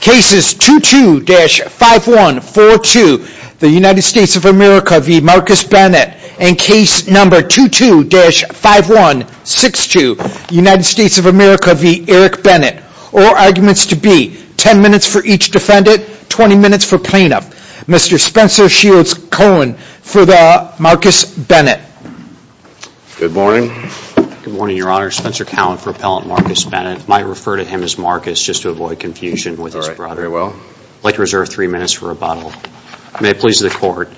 cases 22-5142 the United States of America v. Marcus Bennett and case number 22-5162 United States of America v. Eric Bennett. All arguments to be 10 minutes for each defendant 20 minutes for plaintiff. Mr. Spencer Shields Cohen for the Marcus Bennett. Good morning. Good morning Your Honor. Spencer Cowen for Marcus Bennett. Might refer to him as Marcus just to avoid confusion with his brother. I'd like to reserve three minutes for rebuttal. May it please the court.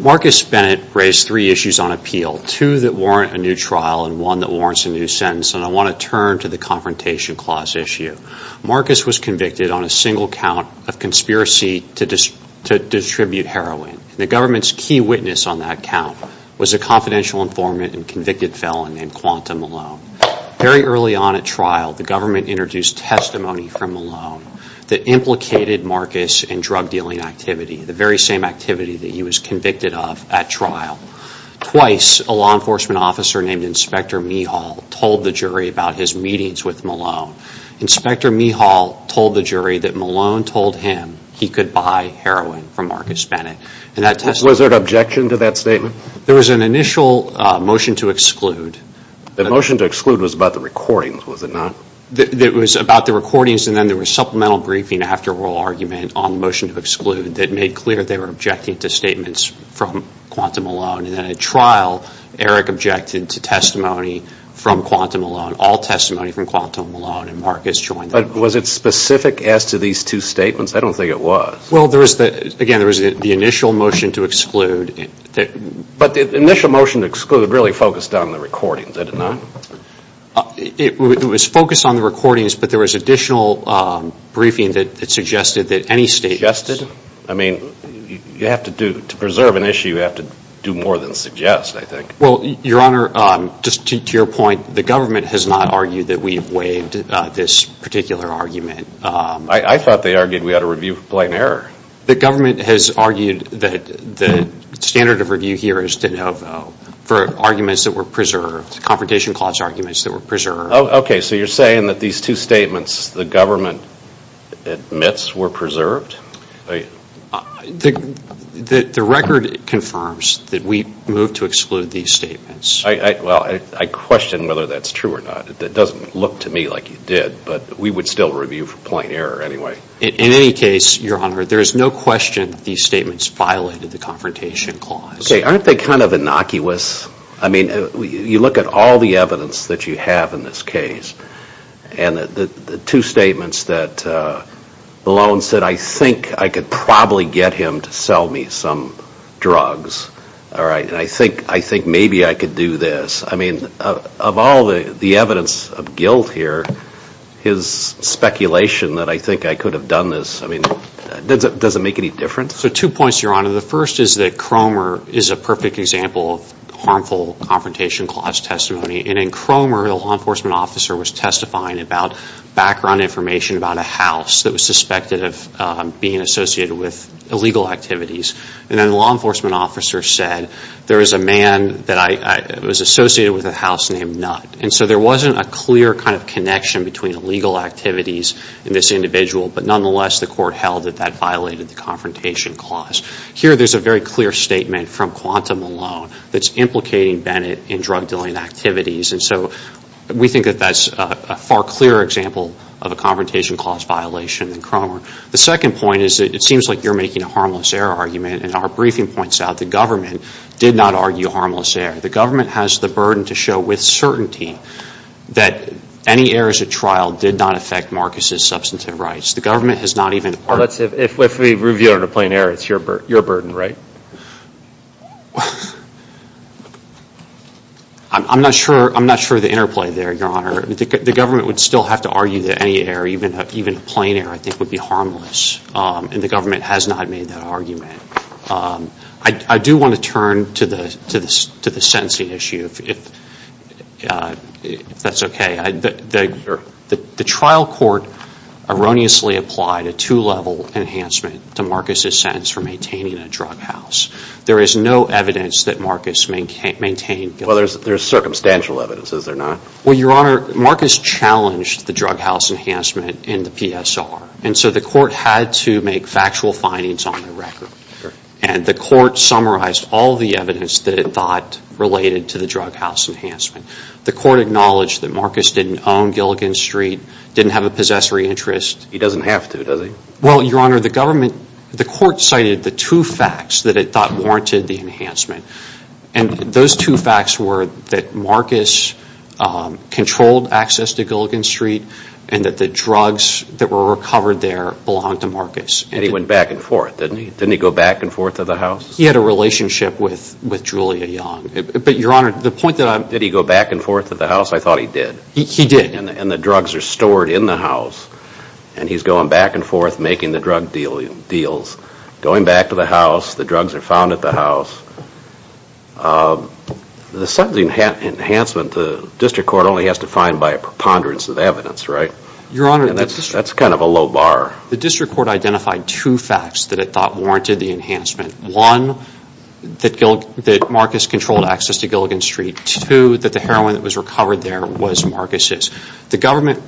Marcus Bennett raised three issues on appeal. Two that warrant a new trial and one that warrants a new sentence and I want to turn to the Confrontation Clause issue. Marcus was convicted on a single count of conspiracy to distribute heroin. The government's key witness on that count was a confidential informant and convicted felon named Quanta Malone. Very early on at trial the government introduced testimony from Malone that implicated Marcus in drug dealing activity. The very same activity that he was convicted of at trial. Twice a law enforcement officer named Inspector Mehal told the jury about his meetings with Malone. Inspector Mehal told the jury that Malone told him he could buy heroin from Marcus Bennett. And that testimony. Was there an objection to that statement? There was an initial motion to exclude. The motion to exclude was about the recordings was it not? It was about the recordings and then there was supplemental briefing after oral argument on motion to exclude that made clear they were objecting to statements from Quanta Malone. And then at trial Eric objected to testimony from Quanta Malone. All testimony from Quanta Malone and Marcus joined. But was it specific as to these two statements? I don't think it was. Well there was the again there was the initial motion to exclude. But the initial motion to exclude really focused on the recordings did it not? It was focused on the recordings but there was additional briefing that suggested that any state. Suggested? I mean you have to do to preserve an issue you have to do more than suggest I think. Well your honor just to your point the government has not argued that we've waived this particular argument. I thought they argued we had a review for plain error. The government has argued that the standard of review here is to have for arguments that were preserved. Confrontation clause arguments that were preserved. Okay so you're saying that these two statements the government admits were preserved? The record confirms that we moved to exclude these statements. Well I question whether that's true or not. It doesn't look to me like you did but we would still review for plain error anyway. In any case your honor there is no question these statements violated the confrontation clause. Okay aren't they kind of innocuous? I mean you look at all the evidence that you have in this case and the two statements that Malone said I think I could probably get him to sell me some drugs. All right and I think I think maybe I could do this. I mean of all the the evidence of guilt here his speculation that I think I could have done this I mean does it doesn't make any difference? So two points your honor the first is that Cromer is a perfect example of harmful confrontation clause testimony and in Cromer the law enforcement officer was testifying about background information about a house that was suspected of being associated with illegal activities and then the law enforcement officer said there is a man that I was associated with a house named Nutt and so there wasn't a clear kind of connection between illegal activities in this individual but nonetheless the court held that that violated the confrontation clause. Here there's a very clear statement from Quantum Malone that's implicating Bennett in drug dealing activities and so we think that that's a far clearer example of a confrontation clause violation than Cromer. The second point is it seems like you're making a harmless error argument and our briefing points out the government did not argue harmless error. The government has the burden to show with certainty that any errors at trial did not affect Marcus's substantive rights. The government has not even If we review it on a plain error it's your burden, right? I'm not sure I'm not sure the interplay there your honor. The government would still have to argue that any error even even a plain error I think would be harmless and the government has not made that argument. I do want to turn to the to the sentencing issue if that's okay. The trial court erroneously applied a two-level enhancement to Marcus's sentence for maintaining a drug house. There is no evidence that Marcus maintained. Well there's circumstantial evidence is there not? Well your honor Marcus challenged the drug house enhancement in the PSR and so the court had to make factual findings on the record and the court summarized all the evidence that it thought related to the drug house enhancement. The court acknowledged that Marcus didn't own Gilligan Street, didn't have a possessory interest. He doesn't have to does he? Well your honor the government the court cited the two facts that it thought warranted the enhancement and those two facts were that Marcus controlled access to Gilligan Street and that the drugs that were recovered there belonged to Marcus. And he went back and forth didn't he? Didn't he go back and forth of the house? He had a relationship with with Julia Young but your honor the point that I'm... Did he go back and forth of the house? I thought he did. He did. And the drugs are stored in the house and he's going back and forth making the drug dealing deals. Going back to the house, the drugs are found at the house. The sentencing enhancement the district court only has to find by a preponderance of evidence right? Your honor... And that's that's kind of a low bar. The district court identified two facts that it thought warranted the enhancement. One, that Marcus controlled access to Gilligan Street. Two, that the heroin that was recovered there was Marcus's. The government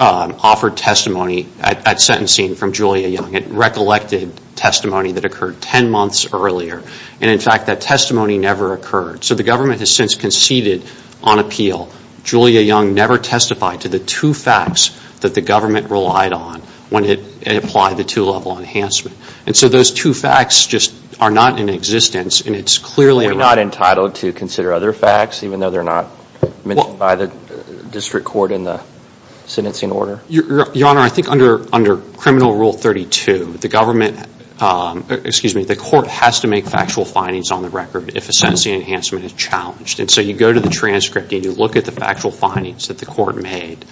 offered testimony at sentencing from Julia Young. It recollected testimony that occurred ten months earlier and in fact that testimony never occurred. So the government has since conceded on appeal. Julia Young never testified to the two facts that the government relied on when it applied the two-level enhancement. And so those two facts just are not in existence and it's clearly... We're not entitled to consider other facts even though they're not mentioned by the district court in the sentencing order? Your honor, I think under under criminal rule 32, the government, excuse me, the court has to make factual findings on the record if a sentencing enhancement is challenged. And so you go to the transcript and you look at the factual findings that the court made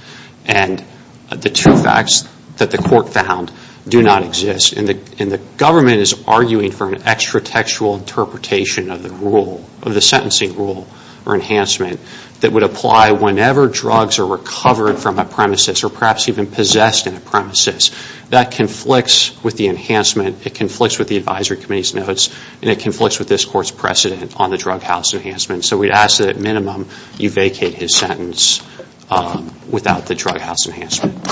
and the two facts that the court found do not exist. And the government is arguing for an extra textual interpretation of the rule, of the sentencing rule or enhancement that would apply whenever drugs are recovered from a premises or perhaps even possessed in a premises. That conflicts with the enhancement, it conflicts with the advisory committee's notes, and it conflicts with this court's precedent on the drug house enhancement. So we'd ask that at minimum you vacate his sentence without the drug house enhancement.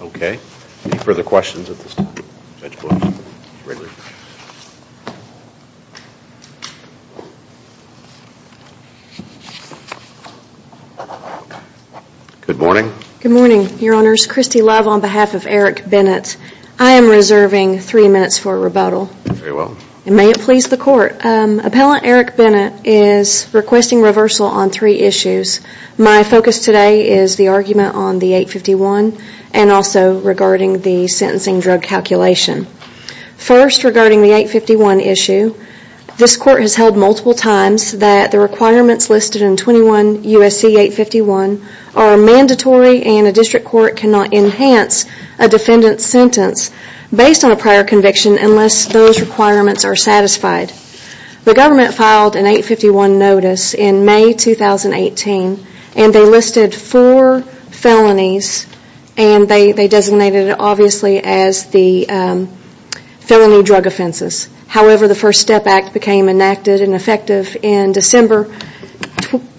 Okay, any further questions at this time? Good morning. Good morning, your honors. Christy Love on behalf of Eric Bennett. I am reserving three minutes for rebuttal. Very well. May it please the court. Appellant Eric Bennett is requesting reversal on three issues. My focus today is the argument on the 851 and also regarding the sentencing drug calculation. First, regarding the 851 issue, this court has held multiple times that the requirements listed in 21 U.S.C. 851 are mandatory and a district court cannot enhance a defendant's sentence based on a prior conviction unless those requirements are satisfied. The government filed an 851 notice in May 2018 and they listed four felonies and they designated it obviously as the felony drug offenses. However, the First Step Act became enacted and effective in December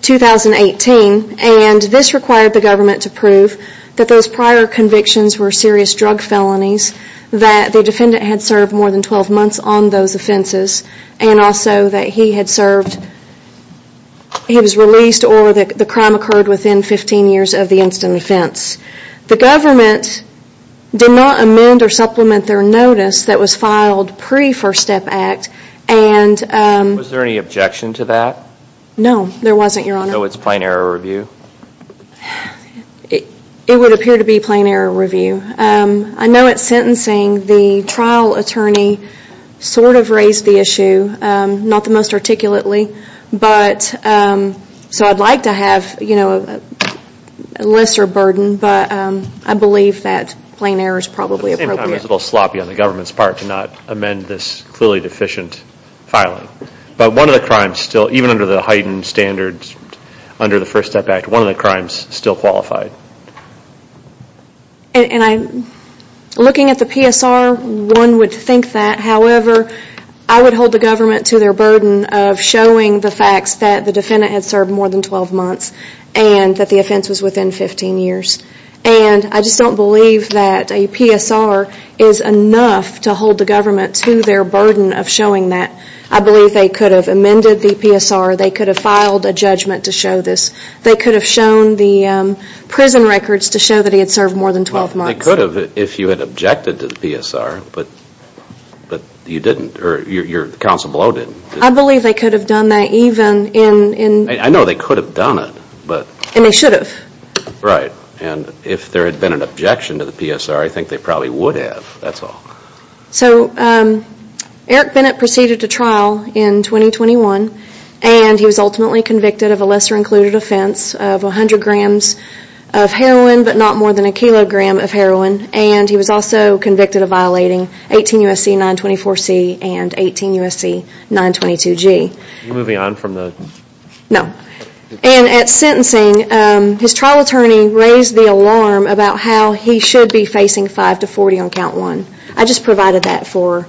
2018 and this required the government to prove that those prior convictions were serious drug felonies, that the defendant had served more than months on those offenses, and also that he had served, he was released or that the crime occurred within 15 years of the instant offense. The government did not amend or supplement their notice that was filed pre-First Step Act. Was there any objection to that? No, there wasn't, your honor. So it's plain error review? It would appear to be plain error review. I know at sentencing the trial attorney sort of raised the issue, not the most articulately, but so I'd like to have, you know, a lesser burden, but I believe that plain error is probably appropriate. At the same time, it's a little sloppy on the government's part to not amend this clearly deficient filing, but one of the crimes still, even under the heightened standards under the First Step Act, one of the crimes still qualified. And I'm looking at the PSR, one would think that. However, I would hold the government to their burden of showing the facts that the defendant had served more than 12 months and that the offense was within 15 years. And I just don't believe that a PSR is enough to hold the government to their burden of showing that. I believe they could have amended the PSR, they could have filed a judgment to show this, they could have shown the prison records to show that he had served more than 12 months. They could have if you had objected to the PSR, but you didn't or your counsel below didn't. I believe they could have done that even in... I know they could have done it, but... And they should have. Right, and if there had been an objection to the PSR, I think they probably would have, that's all. So Eric Bennett proceeded to trial in 2021 and he was ultimately convicted of a lesser kilogram of heroin and he was also convicted of violating 18 U.S.C. 924C and 18 U.S.C. 922G. Moving on from the... No, and at sentencing, his trial attorney raised the alarm about how he should be facing 5 to 40 on count one. I just provided that for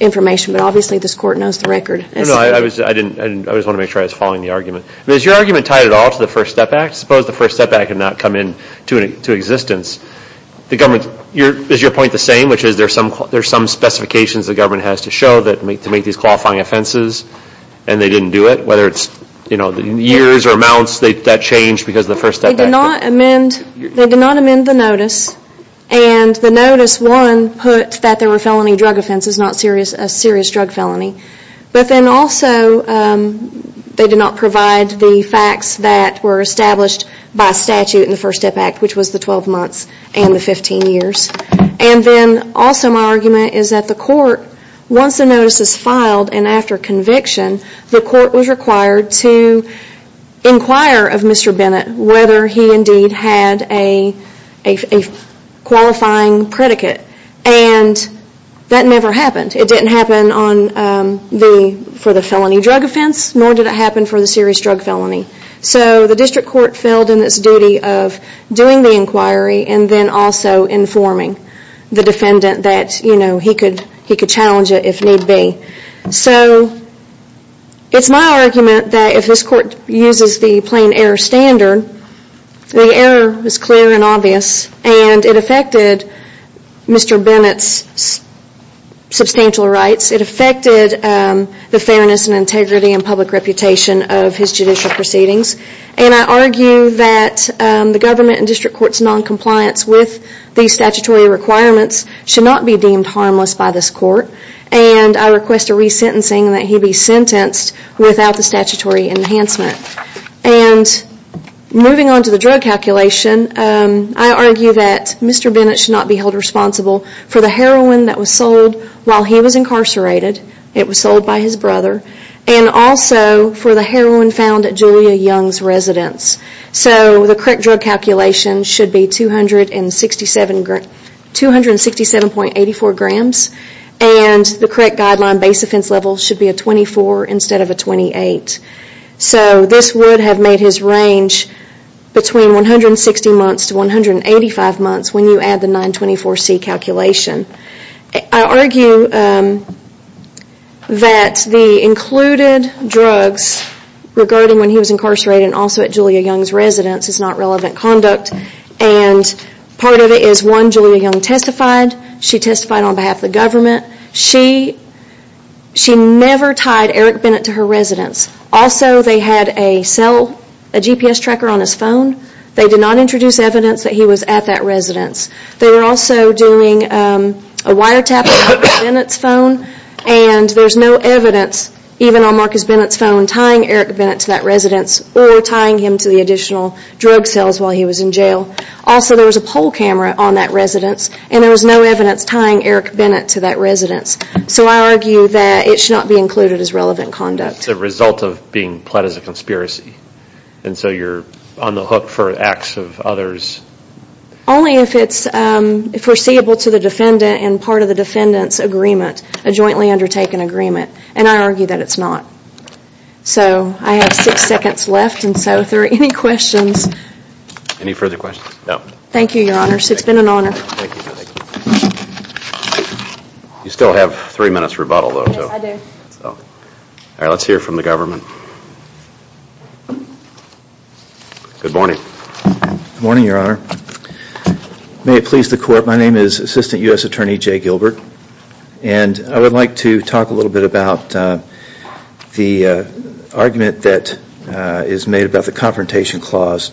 information, but obviously this court knows the record. No, no, I was, I didn't, I just want to make sure I was following the argument. Is your argument tied at all to the First Step Act? Suppose the First Step Act had not come into existence. The government, is your point the same, which is there's some, there's some specifications the government has to show that make, to make these qualifying offenses and they didn't do it? Whether it's, you know, the years or amounts that changed because of the First Step Act? They did not amend, they did not amend the notice and the notice, one, put that there were felony drug offenses, not serious, a serious drug felony, but then also they did not provide the facts that were established by statute in the First Step Act, which was the 12 months and the 15 years. And then also my argument is that the court, once the notice is filed and after conviction, the court was required to inquire of Mr. Bennett whether he indeed had a qualifying predicate and that never happened. It didn't happen on the, for the felony drug offense, nor did it happen for the serious drug felony. So the district court filled in its duty of doing the inquiry and then also informing the defendant that, you know, he could, he could challenge it if need be. So it's my argument that if this court uses the plain error standard, the error is clear and obvious and it affected Mr. Bennett's substantial rights. It affected the fairness and integrity and public reputation of his judicial proceedings and I argue that the government and district courts non-compliance with these statutory requirements should not be deemed harmless by this court and I request a re-sentencing and that he be sentenced without the statutory enhancement. And moving on to the drug calculation, I argue that Mr. Bennett should not be held responsible for the heroin that was sold while he was incarcerated. It was sold by his brother and also for the heroin found at Julia Young's residence. So the correct drug calculation should be 267, 267.84 grams and the correct guideline base offense level should be a 24 instead of a 28. So this would have made his range between 160 months to 185 months when you add the 924C calculation. I argue that the included drugs regarding when he was incarcerated and also at Julia Young's residence is not relevant conduct and part of it is one, Julia Young testified. She testified on behalf of the government. She never tied Eric Bennett to her residence. Also they had a cell, a GPS tracker on his phone. They did not introduce evidence that he was at that residence. They were also doing a wiretapping on Bennett's phone and there's no evidence even on Marcus Bennett's phone tying Eric Bennett to that residence or tying him to the additional drug sales while he was in jail. Also there was a poll camera on that residence and there was no evidence tying Eric Bennett to that residence. So I argue that it should not be included as relevant conduct. It's a result of being pled as a conspiracy and so you're on the hook for acts of others. Only if it's foreseeable to the defendant and part of the defendant's agreement, a jointly undertaken agreement and I argue that it's not. So I have six seconds left and so if there are any questions. Any further questions? No. Thank you, Your Honor. It's been an honor. You still have three minutes rebuttal though. Yes, I do. Let's hear from the government. Good morning. Good morning, Your Honor. May it please the Court. My name is Assistant U.S. Attorney Jay Gilbert and I would like to talk a little bit about the argument that is made about the Confrontation Clause.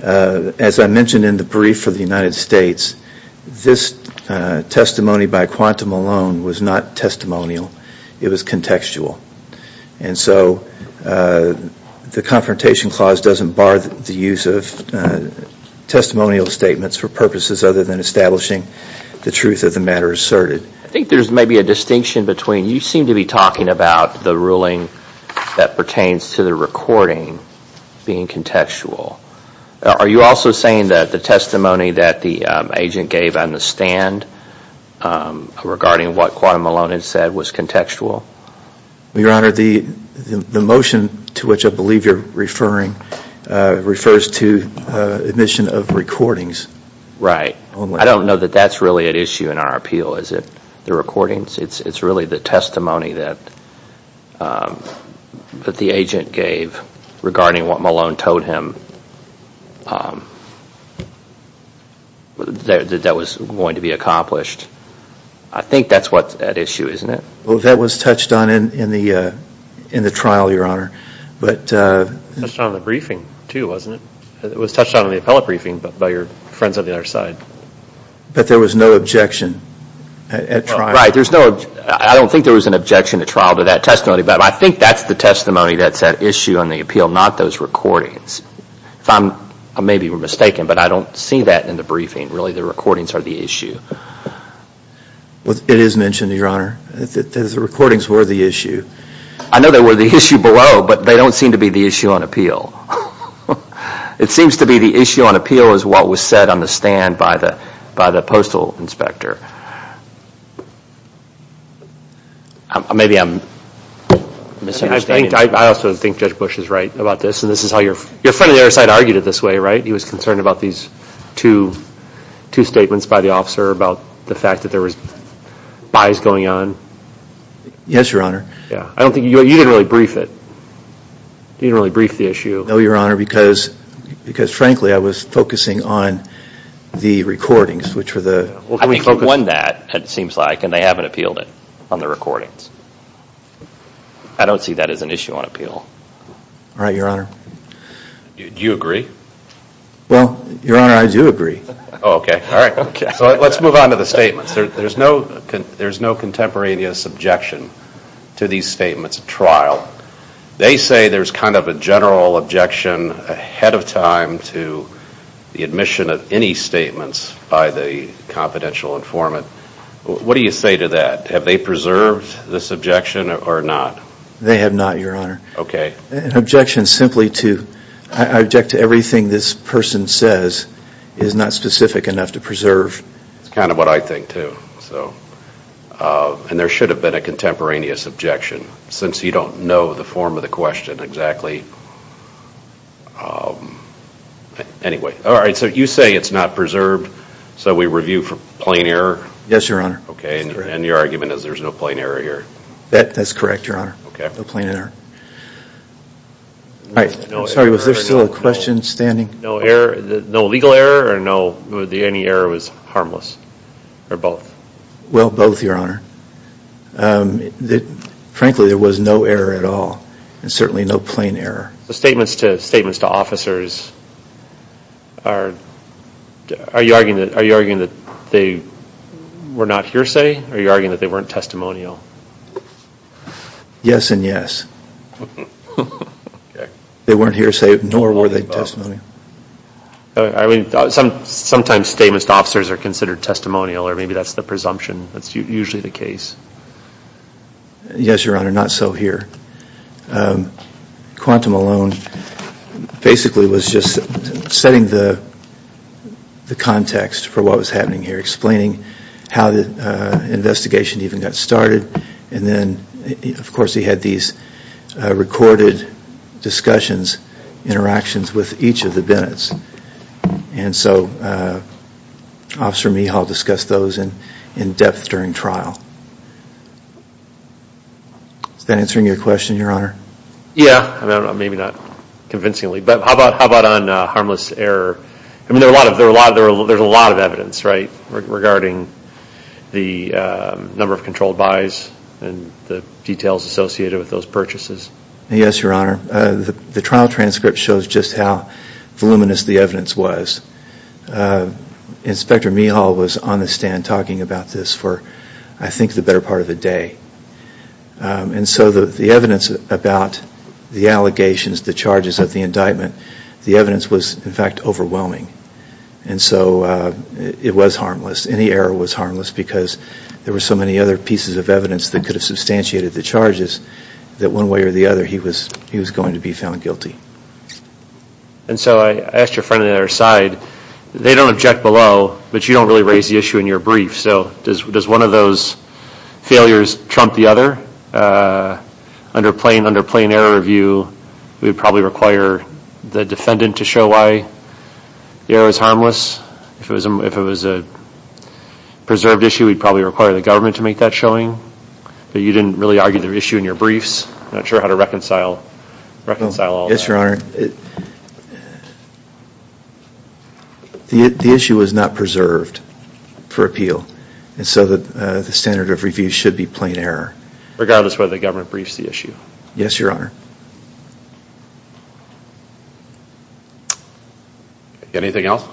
As I mentioned in the brief for the United States, this testimony by quantum alone was not testimonial. It was contextual and so the Confrontation Clause doesn't bar the use of testimonial statements for purposes other than establishing the truth of the matter asserted. I think there's maybe a distinction between you seem to be talking about the ruling that pertains to the recording being contextual. Are you also saying that the testimony that the agent gave on the stand regarding what quantum alone had said was contextual? Your Honor, the motion to which I believe you're referring refers to admission of recordings. Right. I don't know that that's really at issue in our appeal. Is it the recordings? It's really the testimony that the agent gave regarding what Malone told him that was going to be accomplished. I think that's what's at issue, isn't it? Well, that was touched on in the trial, Your Honor. It was touched on in the briefing too, wasn't it? It was touched on in the appellate briefing but by your friends on the other side. But there was no objection at trial. Right, there's no, I don't think there was an objection at trial to that testimony but I think that's the testimony that's at issue on the appeal, not those recordings. I may be mistaken but I don't see that in the briefing. Really, the recordings are the issue. Well, it is mentioned, Your Honor, that the recordings were the issue. I know they were the issue below but they don't seem to be the issue on appeal. It seems to be the issue on appeal is what was said on the stand by the postal inspector. Maybe I'm misunderstanding. I also think Judge Bush is right about this and this is how your friend on the other side argued it this way, right? He was concerned about these two statements by the officer about the fact that there was buys going on. Yes, Your Honor. Yeah, I don't think, you didn't really brief it. You didn't really brief the issue. No, Your Honor, because frankly I was focusing on the recordings which were the... I think he won that, it seems like, and they haven't appealed it on the recordings. I don't see that as an issue on appeal. All right, Your Honor. Do you agree? Well, Your Honor, I do agree. Okay, all right, let's move on to the statements. There's no contemporaneous objection to these statements at trial. They say there's kind of a general objection ahead of time to the admission of any statements by the confidential informant. What do you say to that? Have they preserved this objection or not? They have not, Your Honor. Okay. An objection simply to, I object to everything this person says is not specific enough to preserve. It's kind of what I think too, so, and there should have been a contemporaneous objection since you don't know the form of the question exactly. Anyway, all right, so you say it's not preserved, so we review for plain error? Yes, Your Honor. Okay, and your argument is there's no plain error here? That, that's correct, Your Honor. Okay. No plain error. All right, sorry, was there still a question standing? No error, no legal error, or no, any error was harmless, or both? Well, both, Your Honor. Frankly, there was no error at all, and certainly no plain error. The statements to, statements to officers are, are you arguing that, are you arguing that they were not hearsay, or are you arguing that they weren't testimonial? Yes and yes. They weren't hearsay, nor were they testimonial. I mean, sometimes statements to officers are considered testimonial, or maybe that's the presumption, that's usually the case. Yes, Your Honor, not so here. Quantum alone, basically, was just setting the, the context for what was happening here, explaining how the investigation even got started, and then, of course, he had these recorded discussions, interactions with each of the Bennett's, and so Officer Mehal discussed those in, in depth during trial. Is that answering your question, Your Honor? Yeah, maybe not convincingly, but how about, how about on harmless error? I mean, there are a lot of, there are a lot of, there's a lot of evidence, right, regarding the number of controlled buys, and the details associated with those purchases? Yes, Your Honor, the trial transcript shows just how voluminous the evidence was. Inspector Mehal was on the stand talking about this for, I think, the better part of the day, and so the evidence about the allegations, the charges of the indictment, the evidence was, in fact, overwhelming, and so it was harmless. Any error was harmless, because there were so many other pieces of evidence that could have substantiated the charges, that one way or the other, he was, he was going to be found guilty. And so I asked your friend on the other side, they don't object below, but you don't really raise the issue in your brief, so does, does one of those failures trump the other? Under plain, under plain error review, we would probably require the defendant to show why the error is harmless. If it was a, if it was a preserved issue, we'd probably require the government to make that showing, but you didn't really argue the issue in your briefs. I'm not sure how to reconcile, reconcile all of that. Yes, Your Honor. The issue was not preserved for appeal, and so that the standard of review should be plain error. Regardless whether the government briefs the issue. Yes, Your Honor. Anything else?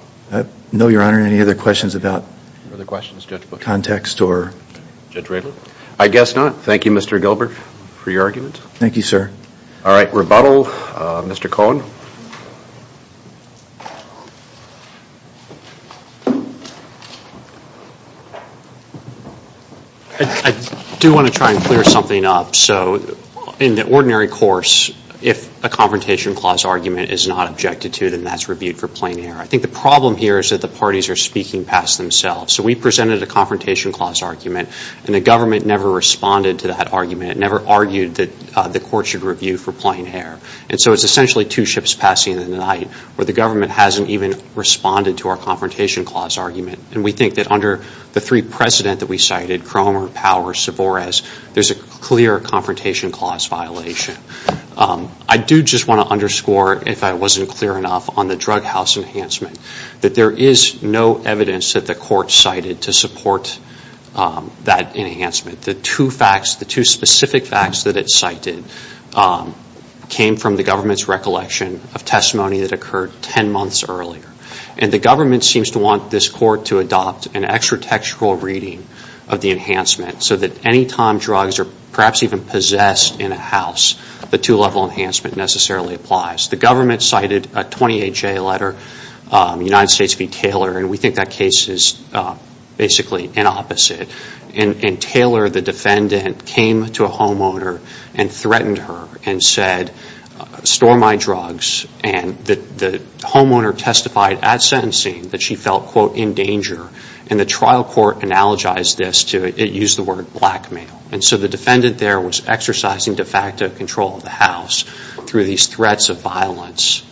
No, Your Honor. Any other questions about the context or? Judge Ravel? I guess not. Thank you, Mr. Gilbert, for your argument. Thank you, sir. All right, rebuttal. Mr. Cohen? I do want to try and clear something up. So in the ordinary course, if a confrontation clause argument is not objected to, then that's rebuke for plain error. I think the problem here is that the parties are speaking past themselves. So we presented a confrontation clause argument, and the government never responded to that argument, never argued that the court should review for plain error. And so it's essentially two ships passing in the night, where the government hasn't even responded to our confrontation clause argument. And we think that under the three precedent that we cited, Cromer, Power, and Savores, there's a clear confrontation clause violation. I do just want to underscore, if I wasn't clear enough, on the drug house enhancement. That there is no evidence that the court cited to support that enhancement. The two facts, the two specific facts that it cited, came from the government's recollection of testimony that occurred ten months earlier. And the government seems to want this court to adopt an extra-textual reading of the enhancement, so that any time drugs are perhaps even possessed in a house, the two-level enhancement necessarily applies. The government cited a 28-J letter, United States v. Taylor, and we think that case is basically an opposite. And Taylor, the defendant, came to a homeowner and threatened her and said, store my drugs. And the homeowner testified at sentencing that she felt, quote, in danger. And the trial court analogized this to, it used the word blackmail. And so the defendant there was exercising de facto control of the house through these threats of violence.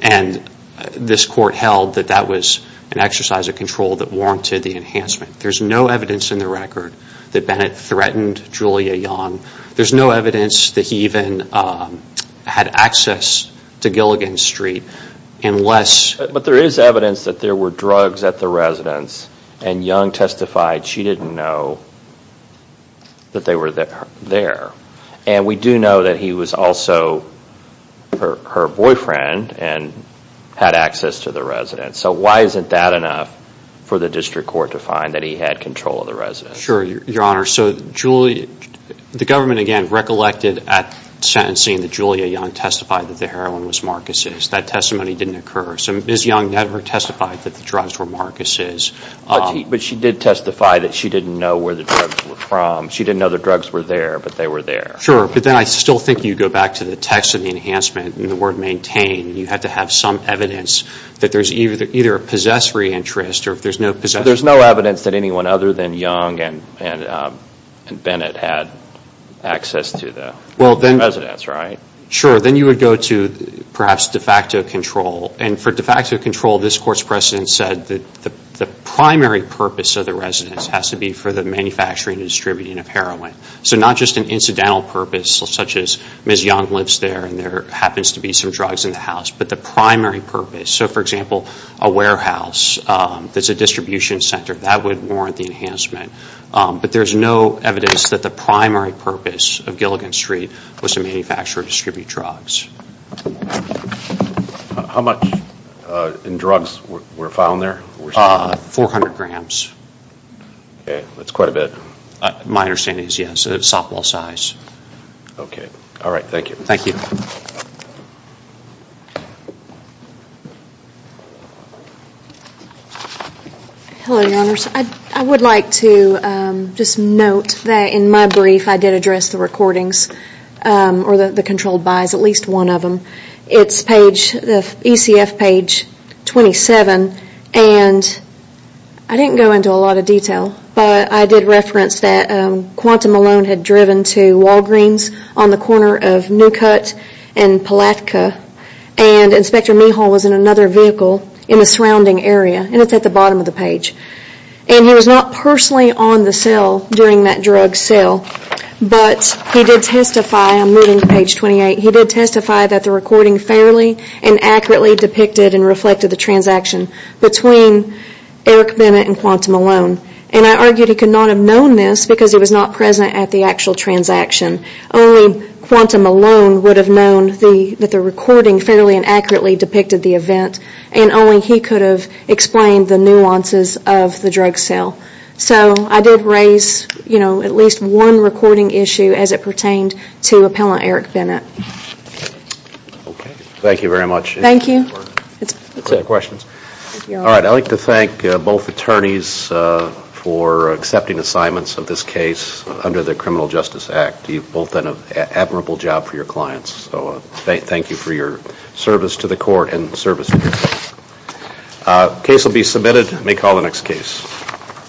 And this court held that that was an exercise of control that warranted the enhancement. There's no evidence in the record that Bennett threatened Julia Young. There's no evidence that he even had access to Gilligan Street unless... But there is evidence that there were drugs at the residence, and Young testified she didn't know that they were there. And we do know that he was also her boyfriend and had access to the residence. So why isn't that enough for the district court to find that he had control of the residence? Sure, Your Honor. So the government, again, recollected at sentencing that Julia Young testified that the heroin was Marcus's. That testimony didn't occur. So Ms. Young never testified that the drugs were Marcus's. But she did testify that she didn't know where the drugs were from. She didn't know the drugs were there, but they were there. Sure. But then I still think you go back to the text of the enhancement and the word maintain. You had to have some evidence that there's either a possessory interest or if there's no possessory... So there's no evidence that anyone other than Young and Bennett had access to the residence, right? Sure. Then you would go to perhaps de facto control. And for de facto control, this court's precedent said that the primary purpose of the residence has to be for the manufacturing and distributing of heroin. So not just an incidental purpose, such as Ms. Young lives there and there happens to be some drugs in the house, but the primary purpose. So for example, a warehouse that's a distribution center, that would warrant the enhancement. But there's no evidence that the primary purpose of Gilligan Street was to manufacture or distribute drugs. How much in drugs were found there? 400 grams. Okay, that's quite a bit. My understanding is yes, softball size. Okay, all right, thank you. Thank you. Hello, Your Honors. I would like to just note that in my brief I did address the recordings or the controlled buys, at least one of them. It's the ECF page 27. And I didn't go into a lot of detail, but I did reference that Quantum Malone had driven to Walgreens on the corner of Newcutt and Palatka, and Inspector Mehal was in another vehicle in the surrounding area. And it's at the bottom of the page. And he was not personally on the cell during that drug sale, but he did testify, I'm moving to page 28, he did and reflected the transaction between Eric Bennett and Quantum Malone. And I argued he could not have known this because he was not present at the actual transaction. Only Quantum Malone would have known that the recording fairly and accurately depicted the event, and only he could have explained the nuances of the drug sale. So I did raise, you know, at least one recording issue as it pertained to Appellant Eric Bennett. Thank you very much. Thank you. Alright, I'd like to thank both attorneys for accepting assignments of this case under the Criminal Justice Act. You've both done an admirable job for your clients, so thank you for your service to the court and service to yourself. The case will be submitted. May call the next case.